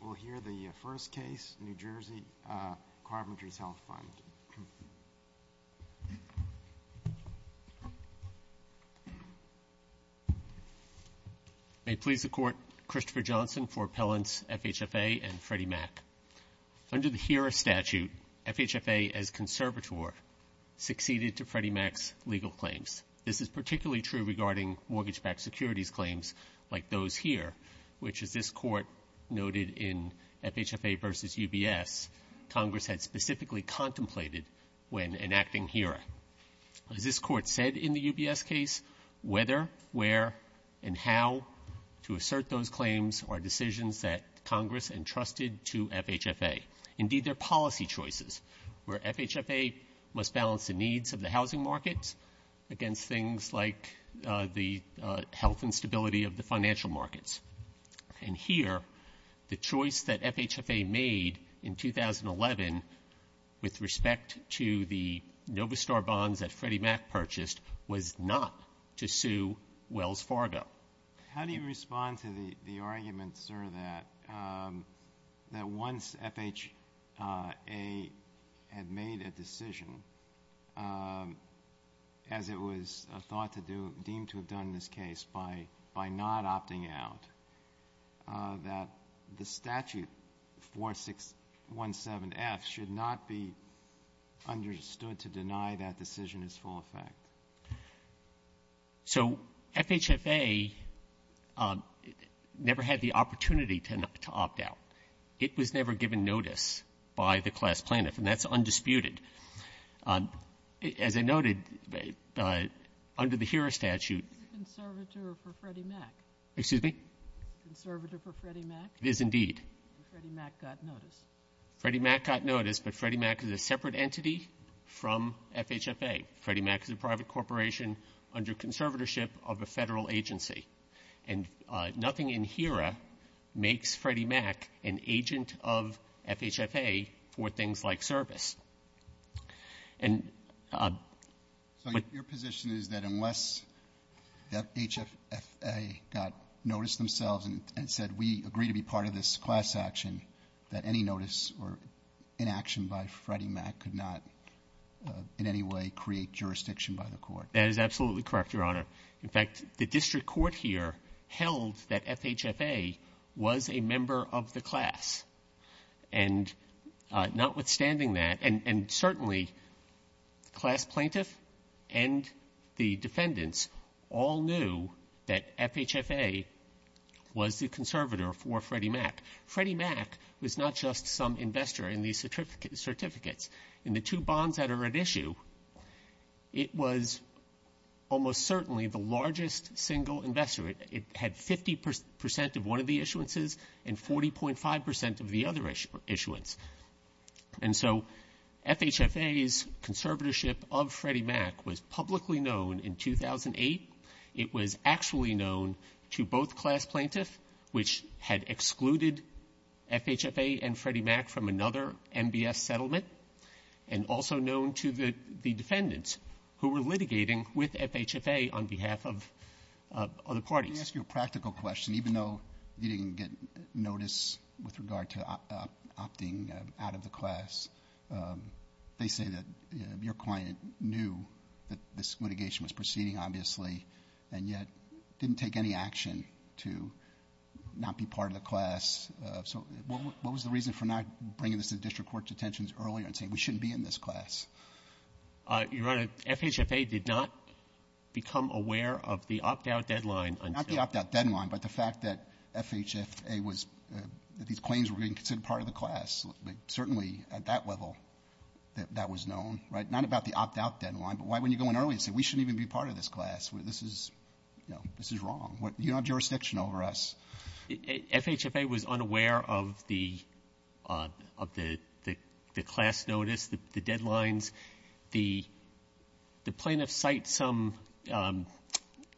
We'll hear the first case, New Jersey Carpenters Health Fund. May it please the Court, Christopher Johnson for appellants FHFA and Freddie Mac. Under the HERA statute, FHFA as conservator succeeded to Freddie Mac's legal claims. This is particularly true regarding mortgage-backed securities claims like those here, which as this Court noted in FHFA versus UBS, Congress had specifically contemplated when enacting HERA. As this Court said in the UBS case, whether, where, and how to assert those claims are decisions that Congress entrusted to FHFA. Indeed, they're policy choices where FHFA must balance the needs of the housing markets against things like the health and stability of the financial markets. And here, the choice that FHFA made in 2011 with respect to the Novistar bonds that Freddie Mac purchased was not to sue Wells Fargo. How do you respond to the argument, sir, that once FHFA had made a decision, as it was thought to do, deemed to have done in this case by not opting out, that the statute 4617F should not be understood to deny that decision its full effect? So FHFA never had the opportunity to opt out. It was never given notice by the class plaintiff, and that's undisputed. As I noted, under the HERA statute --" Ginsburg. It's a conservator for Freddie Mac. Waxman. Excuse me? Ginsburg. It's a conservator for Freddie Mac. Waxman. It is indeed. Ginsburg. And Freddie Mac got notice. Waxman. Freddie Mac got notice, but Freddie Mac is a separate entity from FHFA. Freddie Mac is a private corporation under conservatorship of a federal agency. And nothing in HERA makes Freddie Mac an agent of FHFA for things like service. So your position is that unless FHFA got notice themselves and said, we agree to be part of this class action, that any notice or inaction by Freddie Mac could not in any way create jurisdiction by the court? That is absolutely correct, Your Honor. In fact, the district court here held that FHFA was a member of the class. And notwithstanding that, and certainly class plaintiff and the defendants all knew that FHFA was the conservator for Freddie Mac. Freddie Mac was not just some investor in these certificates. In the two bonds that are at issue, it was almost certainly the largest single investor. It had 50 percent of one of the issuances and 40.5 percent of the other issuance. And so FHFA's conservatorship of Freddie Mac was publicly known in 2008. It was actually known to both class plaintiffs, which had excluded FHFA and Freddie Mac from another MBS settlement, and also known to the defendants who were litigating with FHFA on behalf of other parties. Let me ask you a practical question. Even though you didn't get notice with regard to opting out of the class, they say that your client knew that this litigation was proceeding, obviously, and yet didn't take any action to not be part of the class. So what was the reason for not bringing this to the district court's attentions earlier and saying we shouldn't be in this class? Your Honor, FHFA did not become aware of the opt-out deadline. Not the opt-out deadline, but the fact that FHFA was, that these claims were being considered part of the class. Certainly, at that level, that was known. Right? Not about the opt-out deadline, but why wouldn't you go in early and say, we shouldn't even be part of this class? This is wrong. You don't have jurisdiction over us. FHFA was unaware of the class notice, the deadlines. The plaintiffs cite some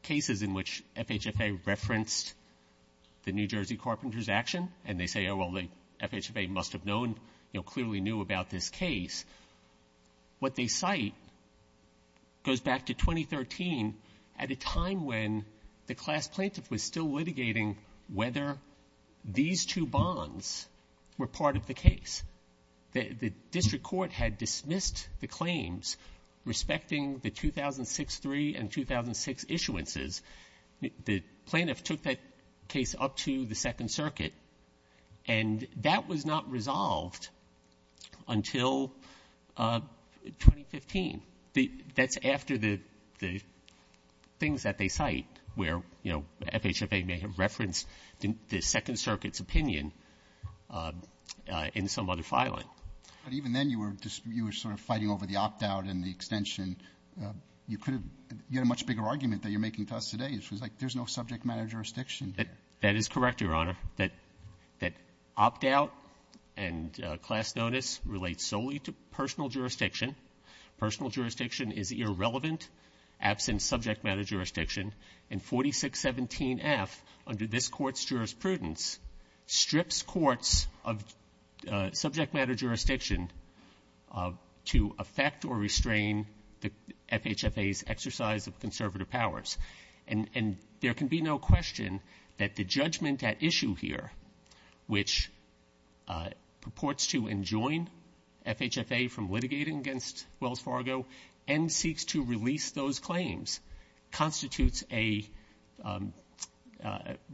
cases in which FHFA referenced the New Jersey carpenters' action, and they say, oh, well, FHFA must have known, you know, clearly knew about this case. What they cite goes back to 2013 at a time when the class plaintiff was still litigating whether these two bonds were part of the case. The district court had dismissed the claims respecting the 2006-3 and 2006 issuances. The plaintiff took that case up to the Second Circuit, and that was not resolved until 2015. That's after the things that they cite where, you know, FHFA may have referenced the Second Circuit's opinion in some other filing. But even then you were sort of fighting over the opt-out and the extension. You could have had a much bigger argument that you're making to us today, which was like, there's no subject matter jurisdiction here. That is correct, Your Honor. That opt-out and class notice relate solely to personal jurisdiction. Personal jurisdiction is irrelevant, absent subject matter jurisdiction. And 4617F, under this Court's jurisprudence, strips courts of subject matter jurisdiction to affect or restrain the FHFA's exercise of conservative powers. And there can be no question that the judgment at issue here, which purports to enjoin FHFA from litigating against Wells Fargo and seeks to release those claims, constitutes a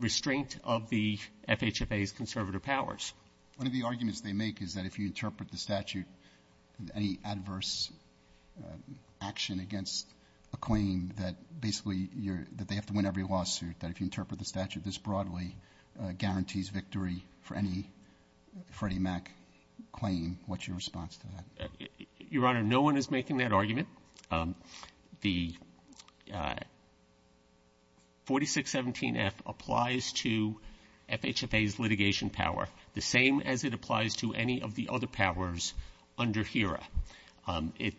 restraint of the FHFA's conservative powers. One of the arguments they make is that if you interpret the statute, any adverse action against a claim that basically they have to win every lawsuit, that if you interpret the statute this broadly guarantees victory for any Freddie Mac claim. What's your response to that? Your Honor, no one is making that argument. The 4617F applies to FHFA's litigation power the same as it applies to any of the other powers under HERA.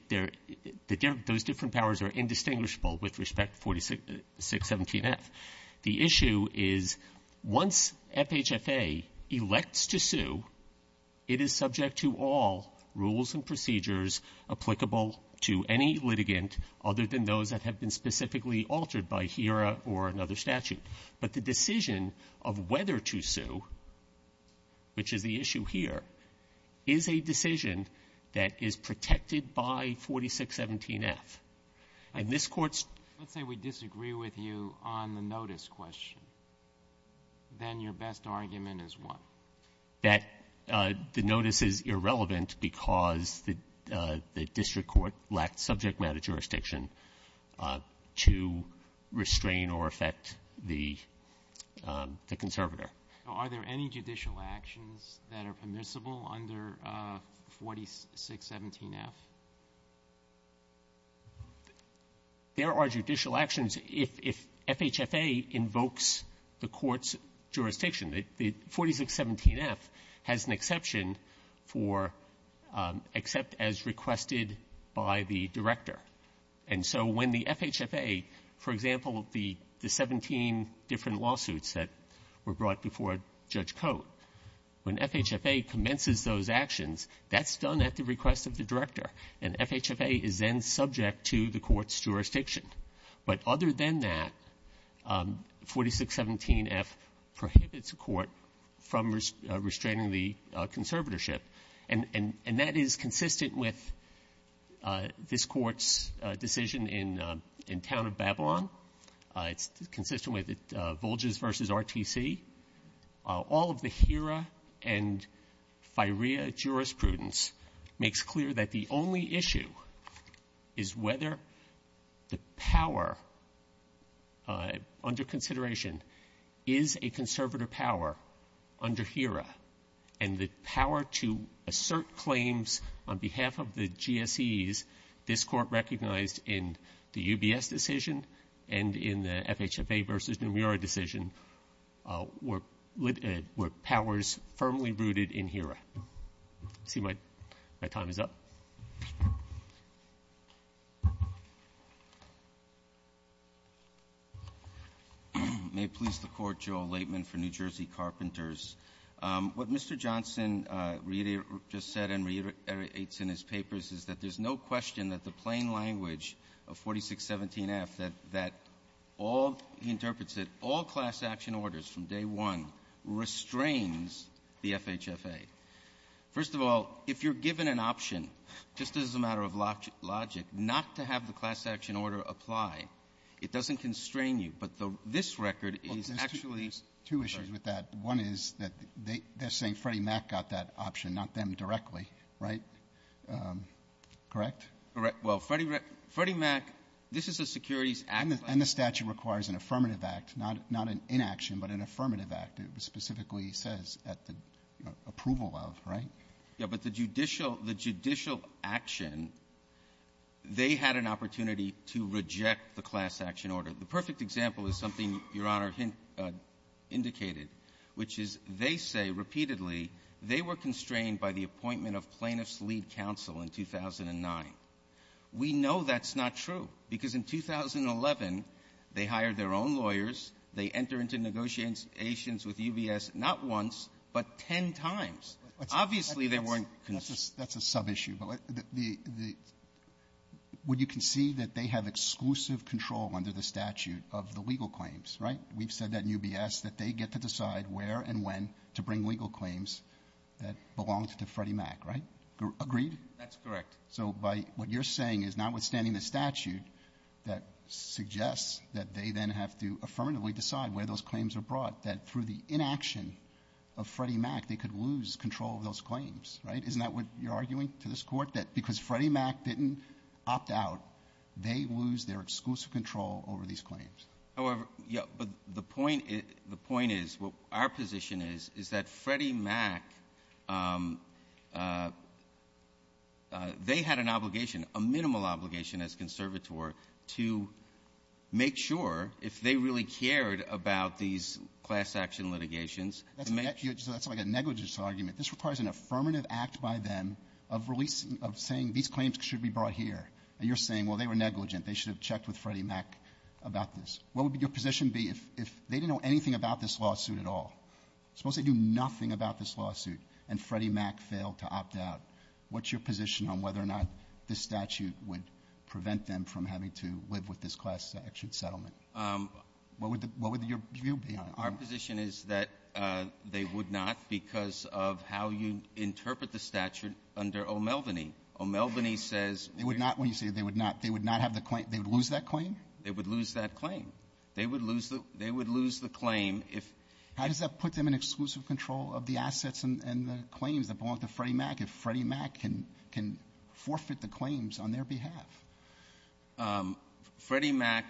Those different powers are indistinguishable with respect to 4617F. The issue is once FHFA elects to sue, it is subject to all rules and procedures applicable to any litigant other than those that have been specifically altered by HERA or another statute. But the decision of whether to sue, which is the issue here, is a decision that is protected by 4617F. And this Court's ---- then your best argument is what? That the notice is irrelevant because the district court lacked subject matter jurisdiction to restrain or affect the conservator. Are there any judicial actions that are permissible under 4617F? There are judicial actions if FHFA invokes the Court's jurisdiction. The 4617F has an exception for except as requested by the director. And so when the FHFA, for example, the 17 different lawsuits that were brought before Judge Cote, when FHFA commences those actions, that's done at the request of the director. And FHFA is then subject to the Court's jurisdiction. But other than that, 4617F prohibits the Court from restraining the conservatorship. And that is consistent with this Court's decision in town of Babylon. It's consistent with it, Volges v. RTC. All of the HERA and FIREA jurisprudence makes clear that the only issue is whether the power under consideration is a conservator power under HERA, and the power to assert claims on behalf of the GSEs, this Court recognized in the UBS decision and in the FHFA v. NMURA decision were powers firmly rooted in HERA. I see my time is up. May it please the Court, Joe Laitman for New Jersey Carpenters. What Mr. Johnson just said and reiterates in his papers is that there's no question that the plain language of 4617F, that all, he interprets it, all class action orders from day one restrains the FHFA. First of all, if you're given an option, just as a matter of logic, not to have the class action order apply, it doesn't constrain you. But this record is actually ---- Well, there's two issues with that. One is that they're saying Freddie Mac got that right. Well, Freddie Mac, this is a securities act. And the statute requires an affirmative act, not an inaction, but an affirmative act. It specifically says at the approval of, right? Yeah. But the judicial action, they had an opportunity to reject the class action order. The perfect example is something Your Honor indicated, which is they say repeatedly they were constrained by the appointment of plaintiff's lead counsel in 2009. We know that's not true, because in 2011, they hired their own lawyers. They entered into negotiations with UBS not once, but ten times. Obviously, they weren't ---- That's a sub-issue, but the ---- would you concede that they have exclusive control under the statute of the legal claims, right? We've said that in UBS that they get to decide where and when to bring legal claims that belonged to Freddie Mac, right? Agreed? That's correct. So by what you're saying is notwithstanding the statute that suggests that they then have to affirmatively decide where those claims are brought, that through the inaction of Freddie Mac, they could lose control of those claims, right? Isn't that what you're arguing to this Court, that because Freddie Mac didn't opt out, they lose their exclusive control over these claims? However, yeah, but the point is what our position is, is that Freddie Mac, they had an obligation, a minimal obligation as conservator to make sure if they really cared about these class-action litigations, to make sure ---- That's like a negligence argument. This requires an affirmative act by them of releasing ---- of saying these claims should be brought here. And you're saying, well, they were negligent. They should have checked with Freddie Mac about this. What would your position be if they didn't know anything about this lawsuit at all? Suppose they knew nothing about this lawsuit, and Freddie Mac failed to opt out. What's your position on whether or not this statute would prevent them from having to live with this class-action settlement? What would your view be on it? Our position is that they would not because of how you interpret the statute under O'Melveny. O'Melveny says ---- They would not. When you say they would not, they would not have the claim. They would lose that claim? They would lose that claim. They would lose the claim if ---- How does that put them in exclusive control of the assets and the claims that belong to Freddie Mac if Freddie Mac can forfeit the claims on their behalf? Freddie Mac,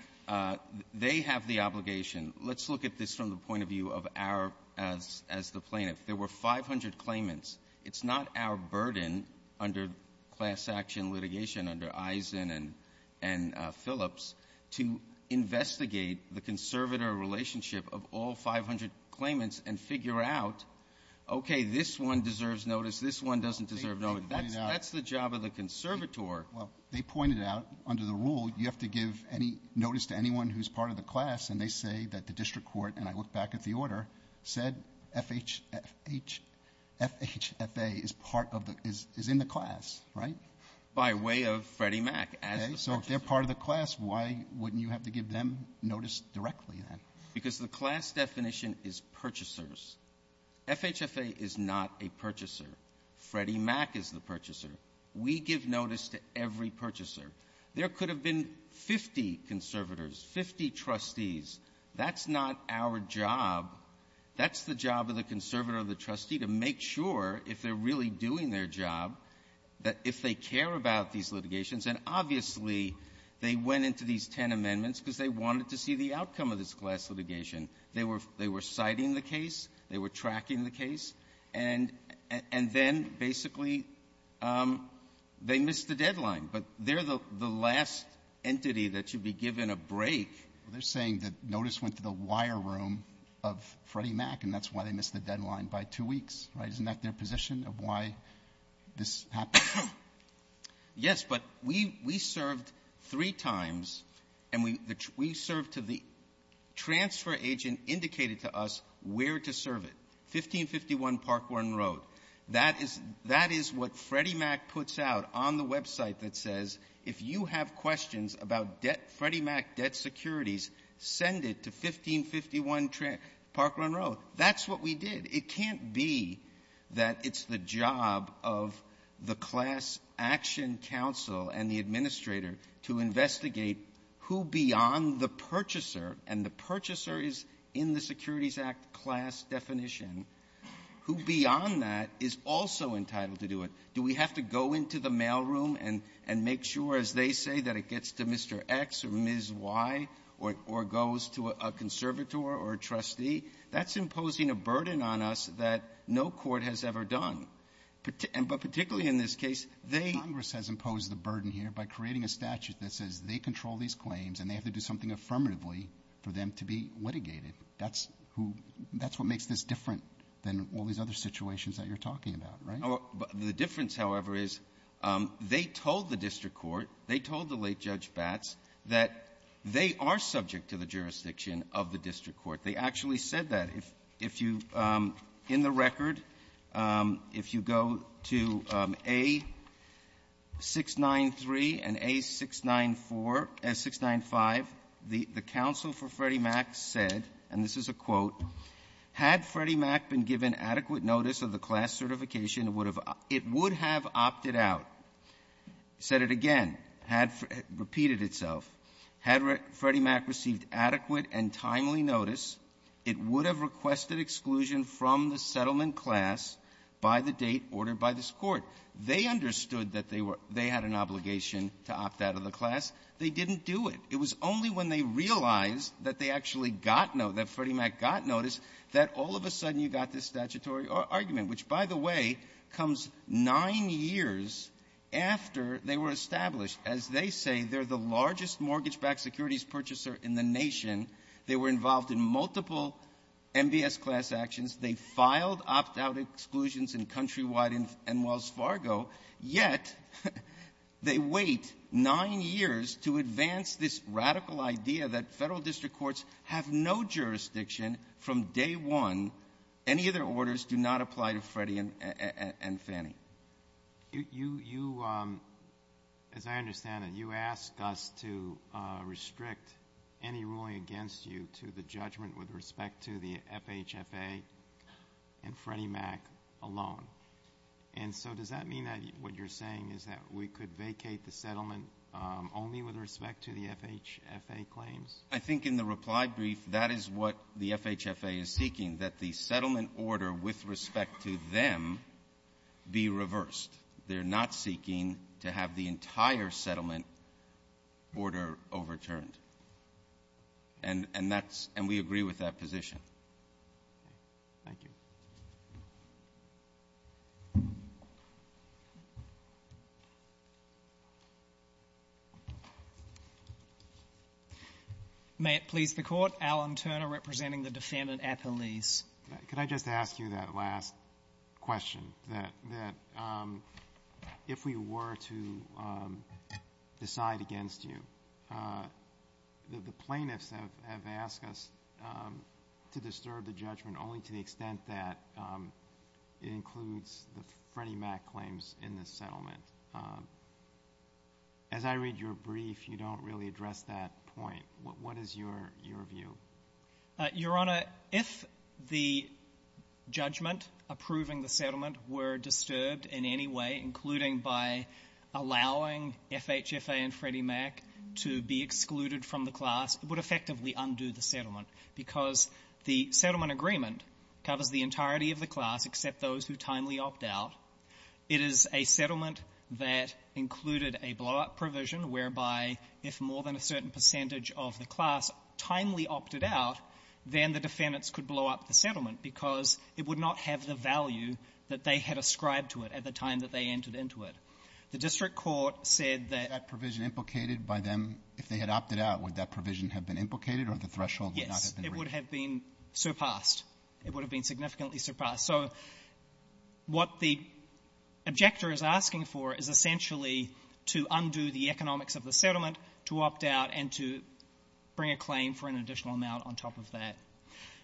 they have the obligation. Let's look at this from the point of view of our, as the plaintiff. There were 500 claimants. It's not our burden under class-action litigation, under Eisen and Phillips, to investigate the conservator relationship of all 500 claimants and figure out, okay, this one deserves notice, this one doesn't deserve notice. That's the job of the conservator. Well, they pointed out under the rule you have to give any notice to anyone who's part of the class, and they say that the district court, and I look back at the order, said FHFA is in the class, right? By way of Freddie Mac as the purchaser. So if they're part of the class, why wouldn't you have to give them notice directly then? Because the class definition is purchasers. FHFA is not a purchaser. Freddie Mac is the purchaser. We give notice to every purchaser. There could have been 50 conservators, 50 trustees. That's not our job. That's the job of the conservator or the trustee to make sure, if they're really doing their job, that if they care about these litigations. And obviously, they went into these ten amendments because they wanted to see the outcome of this class litigation. They were citing the case. They were tracking the case. And then, basically, they missed the deadline. But they're the last entity that should be given a break. Well, they're saying that notice went to the wire room of Freddie Mac, and that's why they missed the deadline by two weeks, right? Isn't that their position of why this happened? Yes, but we served three times, and we served to the transfer agent indicated to us where to serve it, 1551 Parkward and Road. That is what Freddie Mac puts out on the website that says, if you have questions about Freddie Mac debt securities, send it to 1551 Parkward and Road. That's what we did. It can't be that it's the job of the class action counsel and the administrator to investigate who, beyond the purchaser, and the purchaser is in the Securities Act class definition, who, beyond that, is also entitled to do it. Do we have to go into the mailroom and make sure, as they say, that it gets to Mr. X or Ms. Y or goes to a conservator or a trustee? That's imposing a burden on us that no court has ever done. But particularly in this case, they — Congress has imposed the burden here by creating a statute that says they control these claims and they have to do something affirmatively for them to be litigated. That's who — that's what makes this different than all these other situations that you're talking about, right? The difference, however, is they told the district court, they told the late Judge Batts, that they are subject to the jurisdiction of the district court. They actually said that. If you — in the record, if you go to A-693 and A-695, the counsel for Freddie Mac said, and this is a quote, had Freddie Mac been given adequate notice of the class certification, it would have — it would have opted out, said it again, had — repeated itself. Had Freddie Mac received adequate and timely notice, it would have requested exclusion from the settlement class by the date ordered by this Court. They understood that they were — they had an obligation to opt out of the class. They didn't do it. It was only when they realized that they actually got no — that Freddie Mac got notice that all of a sudden you got this statutory argument, which, by the way, comes nine years after they were established. As they say, they're the largest mortgage-backed securities purchaser in the nation. They were involved in multiple MBS class actions. They filed opt-out exclusions in Countrywide and Wells Fargo, yet they wait nine years to advance this radical idea that Federal District Courts have no jurisdiction from day one. Any other orders do not apply to Freddie and Fannie. You — as I understand it, you asked us to restrict any ruling against you to the judgment with respect to the FHFA and Freddie Mac alone. And so does that mean that what you're saying is that we could vacate the settlement only with respect to the FHFA claims? I think in the reply brief, that is what the FHFA is seeking, that the settlement order with respect to them be reversed. They're not seeking to have the entire settlement order overturned. And that's — and we agree with that position. Thank you. May it please the Court. Alan Turner representing the defendant at the lease. Could I just ask you that last question, that if we were to decide against you, the plaintiffs have asked us to disturb the judgment only to the extent that it includes the Freddie Mac claims in this settlement. As I read your brief, you don't really address that point. What is your view? Your Honor, if the judgment approving the settlement were disturbed in any way, including by allowing FHFA and Freddie Mac to be excluded from the class, it would effectively undo the settlement, because the settlement agreement covers the entirety of the class except those who timely opt out. It is a settlement that included a blow-up provision whereby if more than a certain percentage of the class timely opted out, then the defendants could blow up the settlement because it would not have the value that they had ascribed to it at the time that they entered into it. The district court said that — Was that provision implicated by them? If they had opted out, would that provision have been implicated or the threshold would not have been reached? Yes. It would have been surpassed. It would have been significantly surpassed. So what the objector is asking for is essentially to undo the economics of the settlement, to opt out, and to bring a claim for an additional amount on top of that.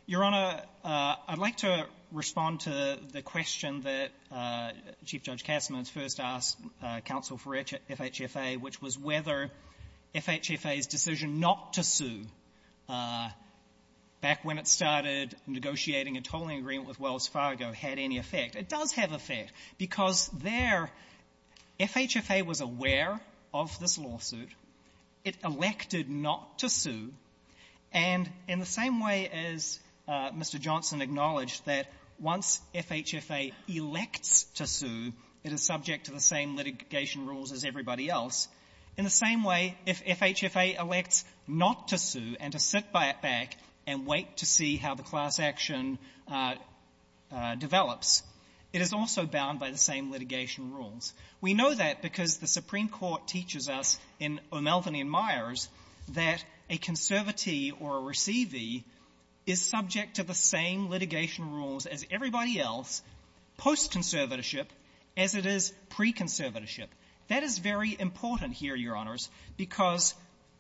Your Honor, I'd like to respond to the question that Chief Judge Kasserman first asked counsel for FHFA, which was whether FHFA's decision not to sue back when it started negotiating a tolling agreement with Wells Fargo had any effect. It does have effect, because there, FHFA was aware of this lawsuit. It elected not to sue. And in the same way as Mr. Johnson acknowledged that once FHFA elects to sue, it is subject to the same litigation rules as everybody else, in the same way if FHFA elects not to sue and to sit back and wait to see how the class action develops, it is also bound by the same litigation rules. We know that because the Supreme Court teaches us in O'Melveny and Myers that a conservatee or a receivee is subject to the same litigation rules as everybody else post-conservatorship as it is pre-conservatorship. That is very important here, Your Honors, because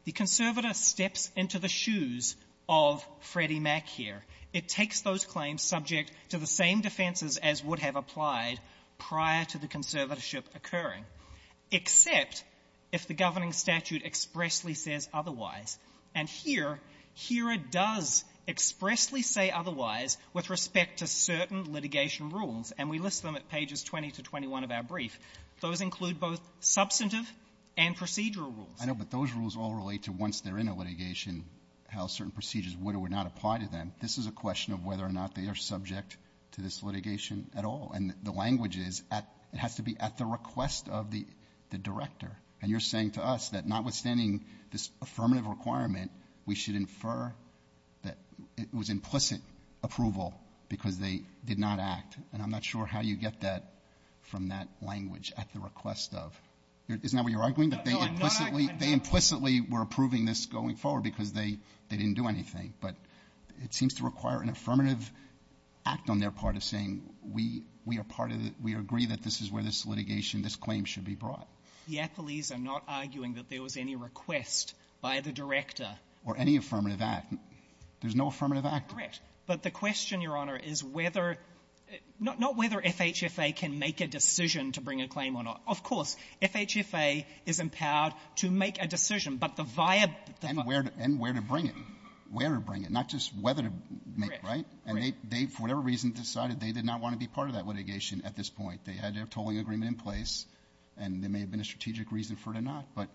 the conservator steps into the shoes of Freddie Mac here. It takes those claims subject to the same defenses as would have applied prior to the conservatorship occurring, except if the governing statute expressly says otherwise. And here, HERA does expressly say otherwise with respect to certain litigation rules, and we list them at pages 20 to 21 of our brief. Those include both substantive and procedural rules. I know, but those rules all relate to once they're in a litigation, how certain procedures would or would not apply to them. This is a question of whether or not they are subject to this litigation at all. And the language is it has to be at the request of the director. And you're saying to us that notwithstanding this affirmative requirement, we should infer that it was implicit approval because they did not act. And I'm not sure how you get that from that language, at the request of. Isn't that what you're arguing? No, I'm not arguing that. They implicitly were approving this going forward because they didn't do anything. But it seems to require an affirmative act on their part of saying, we are part of the — we agree that this is where this litigation, this claim should be brought. The appellees are not arguing that there was any request by the director. Or any affirmative act. There's no affirmative act. Correct. But the question, Your Honor, is whether — not whether FHFA can make a decision to bring a claim or not. Of course, FHFA is empowered to make a decision, but the via — And where to bring it. Where to bring it. Not just whether to make, right? Correct. And they, for whatever reason, decided they did not want to be part of that litigation at this point. They had their tolling agreement in place, and there may have been a strategic reason for it or not. But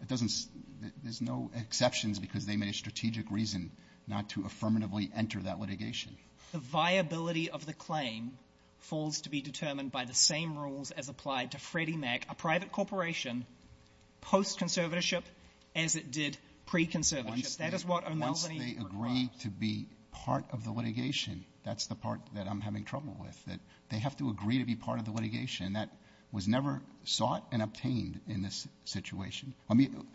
it doesn't — there's no exceptions because they made a strategic reason not to affirmatively enter that litigation. The viability of the claim falls to be determined by the same rules as applied to Freddie Mac, a private corporation, post-conservatorship as it did pre-conservatorship. That is what O'Melveny requires. Once they agree to be part of the litigation, that's the part that I'm having trouble with. That they have to agree to be part of the litigation. And that was never sought and obtained in this situation. I mean,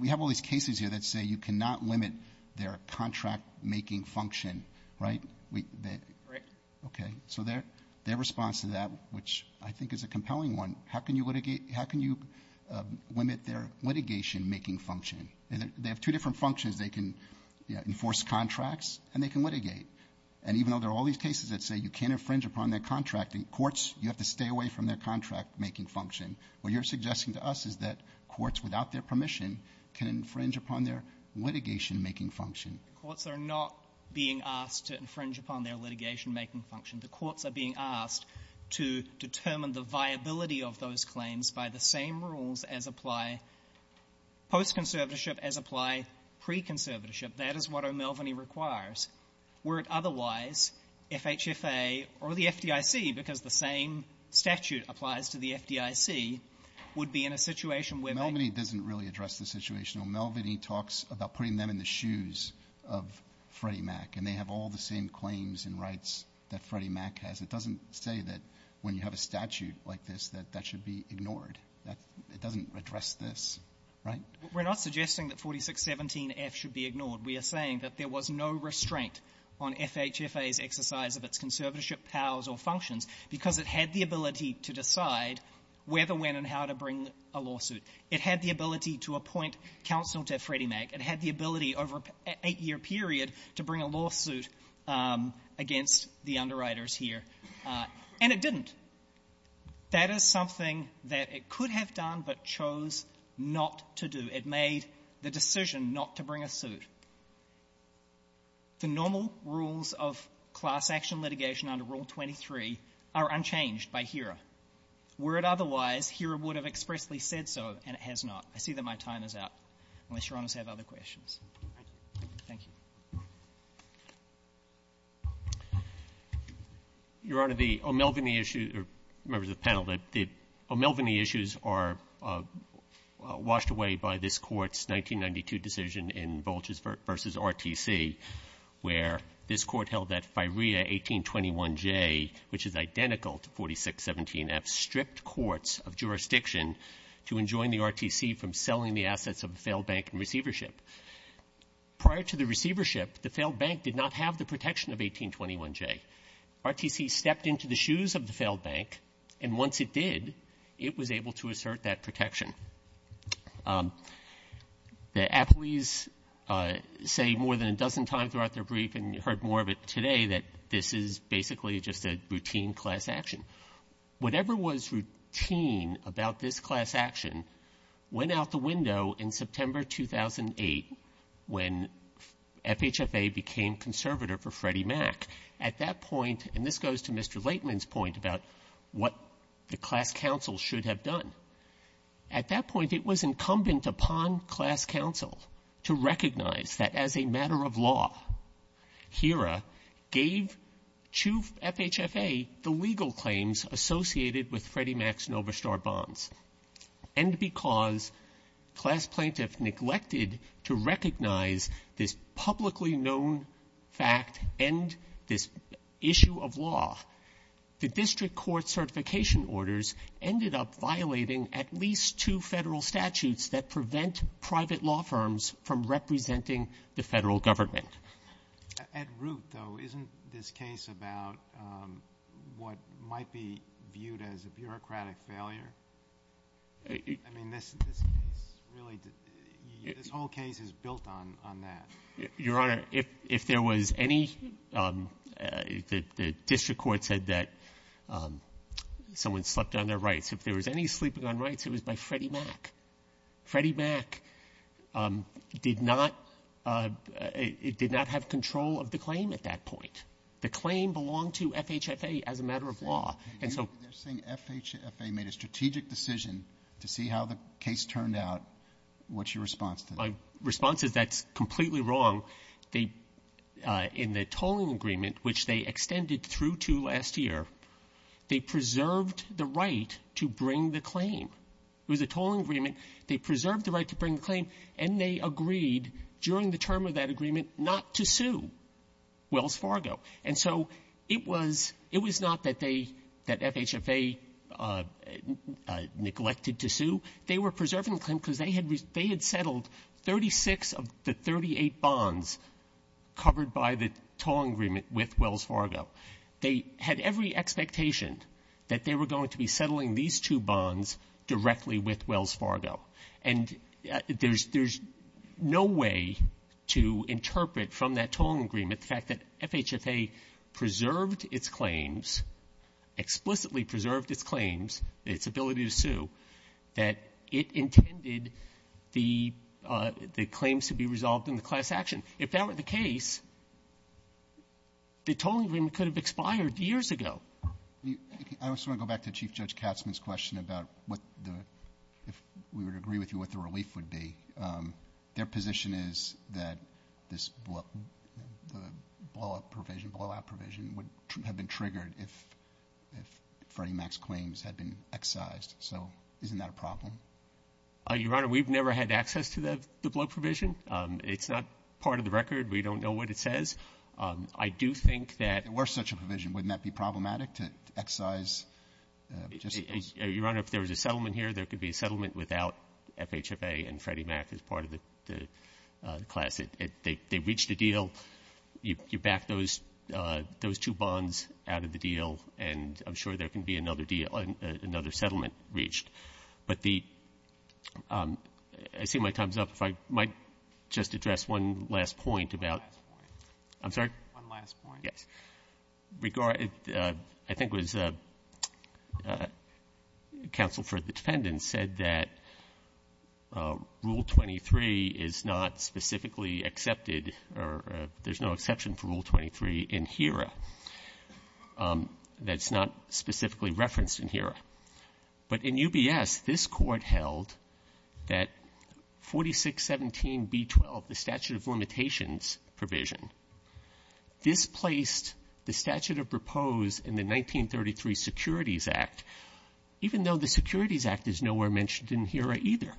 we have all these cases here that say you cannot limit their contract-making function, right? Correct. Okay. So their response to that, which I think is a compelling one, how can you limit their litigation-making function? They have two different functions. They can enforce contracts, and they can litigate. And even though there are all these cases that say you can't infringe upon their contracting, courts, you have to stay away from their contract-making function. What you're suggesting to us is that courts without their permission can infringe upon their litigation-making function. Courts are not being asked to infringe upon their litigation-making function. The courts are being asked to determine the viability of those claims by the same rules as apply post-conservatorship as apply pre-conservatorship. That is what O'Melveny requires. Were it otherwise, FHFA or the FDIC, because the same statute applies to the FDIC, would be in a situation where they — O'Melveny doesn't really address the situation. O'Melveny talks about putting them in the shoes of Freddie Mac, and they have all the same claims and rights that Freddie Mac has. It doesn't say that when you have a statute like this that that should be ignored. That doesn't address this, right? We're not suggesting that 4617F should be ignored. We are saying that there was no restraint on FHFA's exercise of its conservatorship powers or functions because it had the ability to decide whether, when, and how to bring a lawsuit. It had the ability to appoint counsel to Freddie Mac. It had the ability over an eight-year period to bring a lawsuit against the underwriters here. And it didn't. That is something that it could have done but chose not to do. It made the decision not to bring a suit. The normal rules of class-action litigation under Rule 23 are unchanged by HERA. Were it otherwise, HERA would have expressly said so, and it has not. I see that my time is up, unless Your Honors have other questions. Thank you. Your Honor, the O'Melveny issue, or members of the panel, the O'Melveny issues are washed away by this Court's 1992 decision in Volchers v. RTC, where this Court held that FIREA 1821J, which is identical to 4617F, stripped courts of jurisdiction to enjoin the RTC from selling the assets of a failed bank and receivership. Prior to the receivership, the failed bank did not have the protection of 1821J. RTC stepped into the shoes of the failed bank, and once it did, it was able to assert that protection. The appellees say more than a dozen times throughout their brief, and you heard more of it today, that this is basically just a routine class-action. Whatever was routine about this class-action went out the window in September 2008, when FHFA became conservative for Freddie Mac. At that point, and this goes to Mr. Laitman's point about what the class counsel should have done, at that point it was incumbent upon class counsel to recognize that as a matter of law, HERA gave to FHFA the legal claims associated with Freddie Mac's Novastar bonds. And because class plaintiffs neglected to recognize this publicly known fact and this issue of law, the district court certification orders ended up violating at least two federal statutes that prevent private law firms from representing the federal government. At root, though, isn't this case about what might be viewed as a bureaucratic failure? I mean, this case really, this whole case is built on that. Your Honor, if there was any, the district court said that someone slept on their rights. If there was any sleeping on rights, it was by Freddie Mac. Freddie Mac did not have control of the claim at that point. The claim belonged to FHFA as a matter of law. They're saying FHFA made a strategic decision to see how the case turned out. What's your response to that? My response is that's completely wrong. In the tolling agreement, which they extended through to last year, they preserved the right to bring the claim. It was a tolling agreement. They preserved the right to bring the claim, and they agreed during the term of that agreement not to sue Wells Fargo. And so it was not that FHFA neglected to sue. They were preserving the claim because they had settled 36 of the 38 bonds covered by the tolling agreement with Wells Fargo. They had every expectation that they were going to be settling these two bonds directly with Wells Fargo. And there's no way to interpret from that tolling agreement the fact that FHFA preserved its claims, explicitly preserved its claims, its ability to sue, that it intended the claims to be resolved in the class action. If that were the case, the tolling agreement could have expired years ago. I just want to go back to Chief Judge Katzman's question about what the — if we would agree with you what the relief would be. Their position is that this blow-up provision, blow-out provision would have been triggered if Freddie Mac's claims had been excised. So isn't that a problem? Your Honor, we've never had access to the blow provision. It's not part of the record. We don't know what it says. I do think that — If it were such a provision, wouldn't that be problematic to excise — Your Honor, if there was a settlement here, there could be a settlement without FHFA and Freddie Mac as part of the class. They reached a deal. You back those two bonds out of the deal, and I'm sure there can be another deal — another settlement reached. But the — I see my time's up. If I might just address one last point about — One last point. I'm sorry? One last point. Yes. I think it was — counsel for the defendants said that Rule 23 is not specifically accepted, or there's no exception for Rule 23 in HERA that's not specifically referenced in HERA. But in UBS, this Court held that 4617b12, the statute of limitations provision, displaced the statute of proposed in the 1933 Securities Act, even though the Securities Act is nowhere mentioned in HERA either.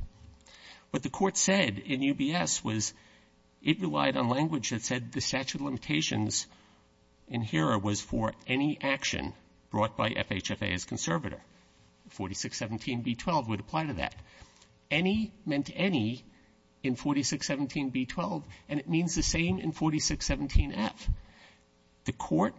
What the Court said in UBS was it relied on language that said the statute of limitations in HERA was for any action brought by FHFA as conservator. 4617b12 would apply to that. Any meant any in 4617b12, and it means the same in 4617f. The Court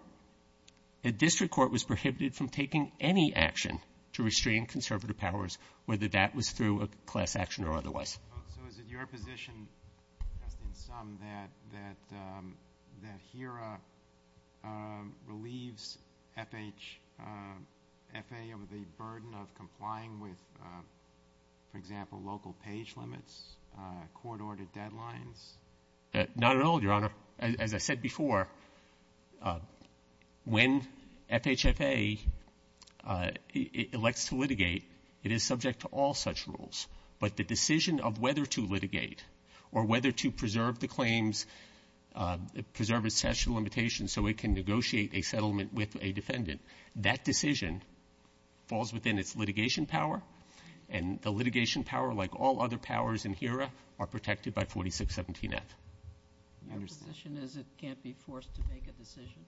— the district court was prohibited from taking any action to restrain conservative powers, whether that was through a class action or otherwise. So is it your position, just in sum, that — that HERA relieves FH — FHA of the burden of complying with, for example, local page limits, court-ordered deadlines? Not at all, Your Honor. As I said before, when FHFA elects to litigate, it is subject to all such rules. But the decision of whether to litigate or whether to preserve the claims, preserve its statute of limitations so it can negotiate a settlement with a defendant, that decision falls within its litigation power. And the litigation power, like all other powers in HERA, are protected by 4617f. Your position is it can't be forced to make a decision? Correct.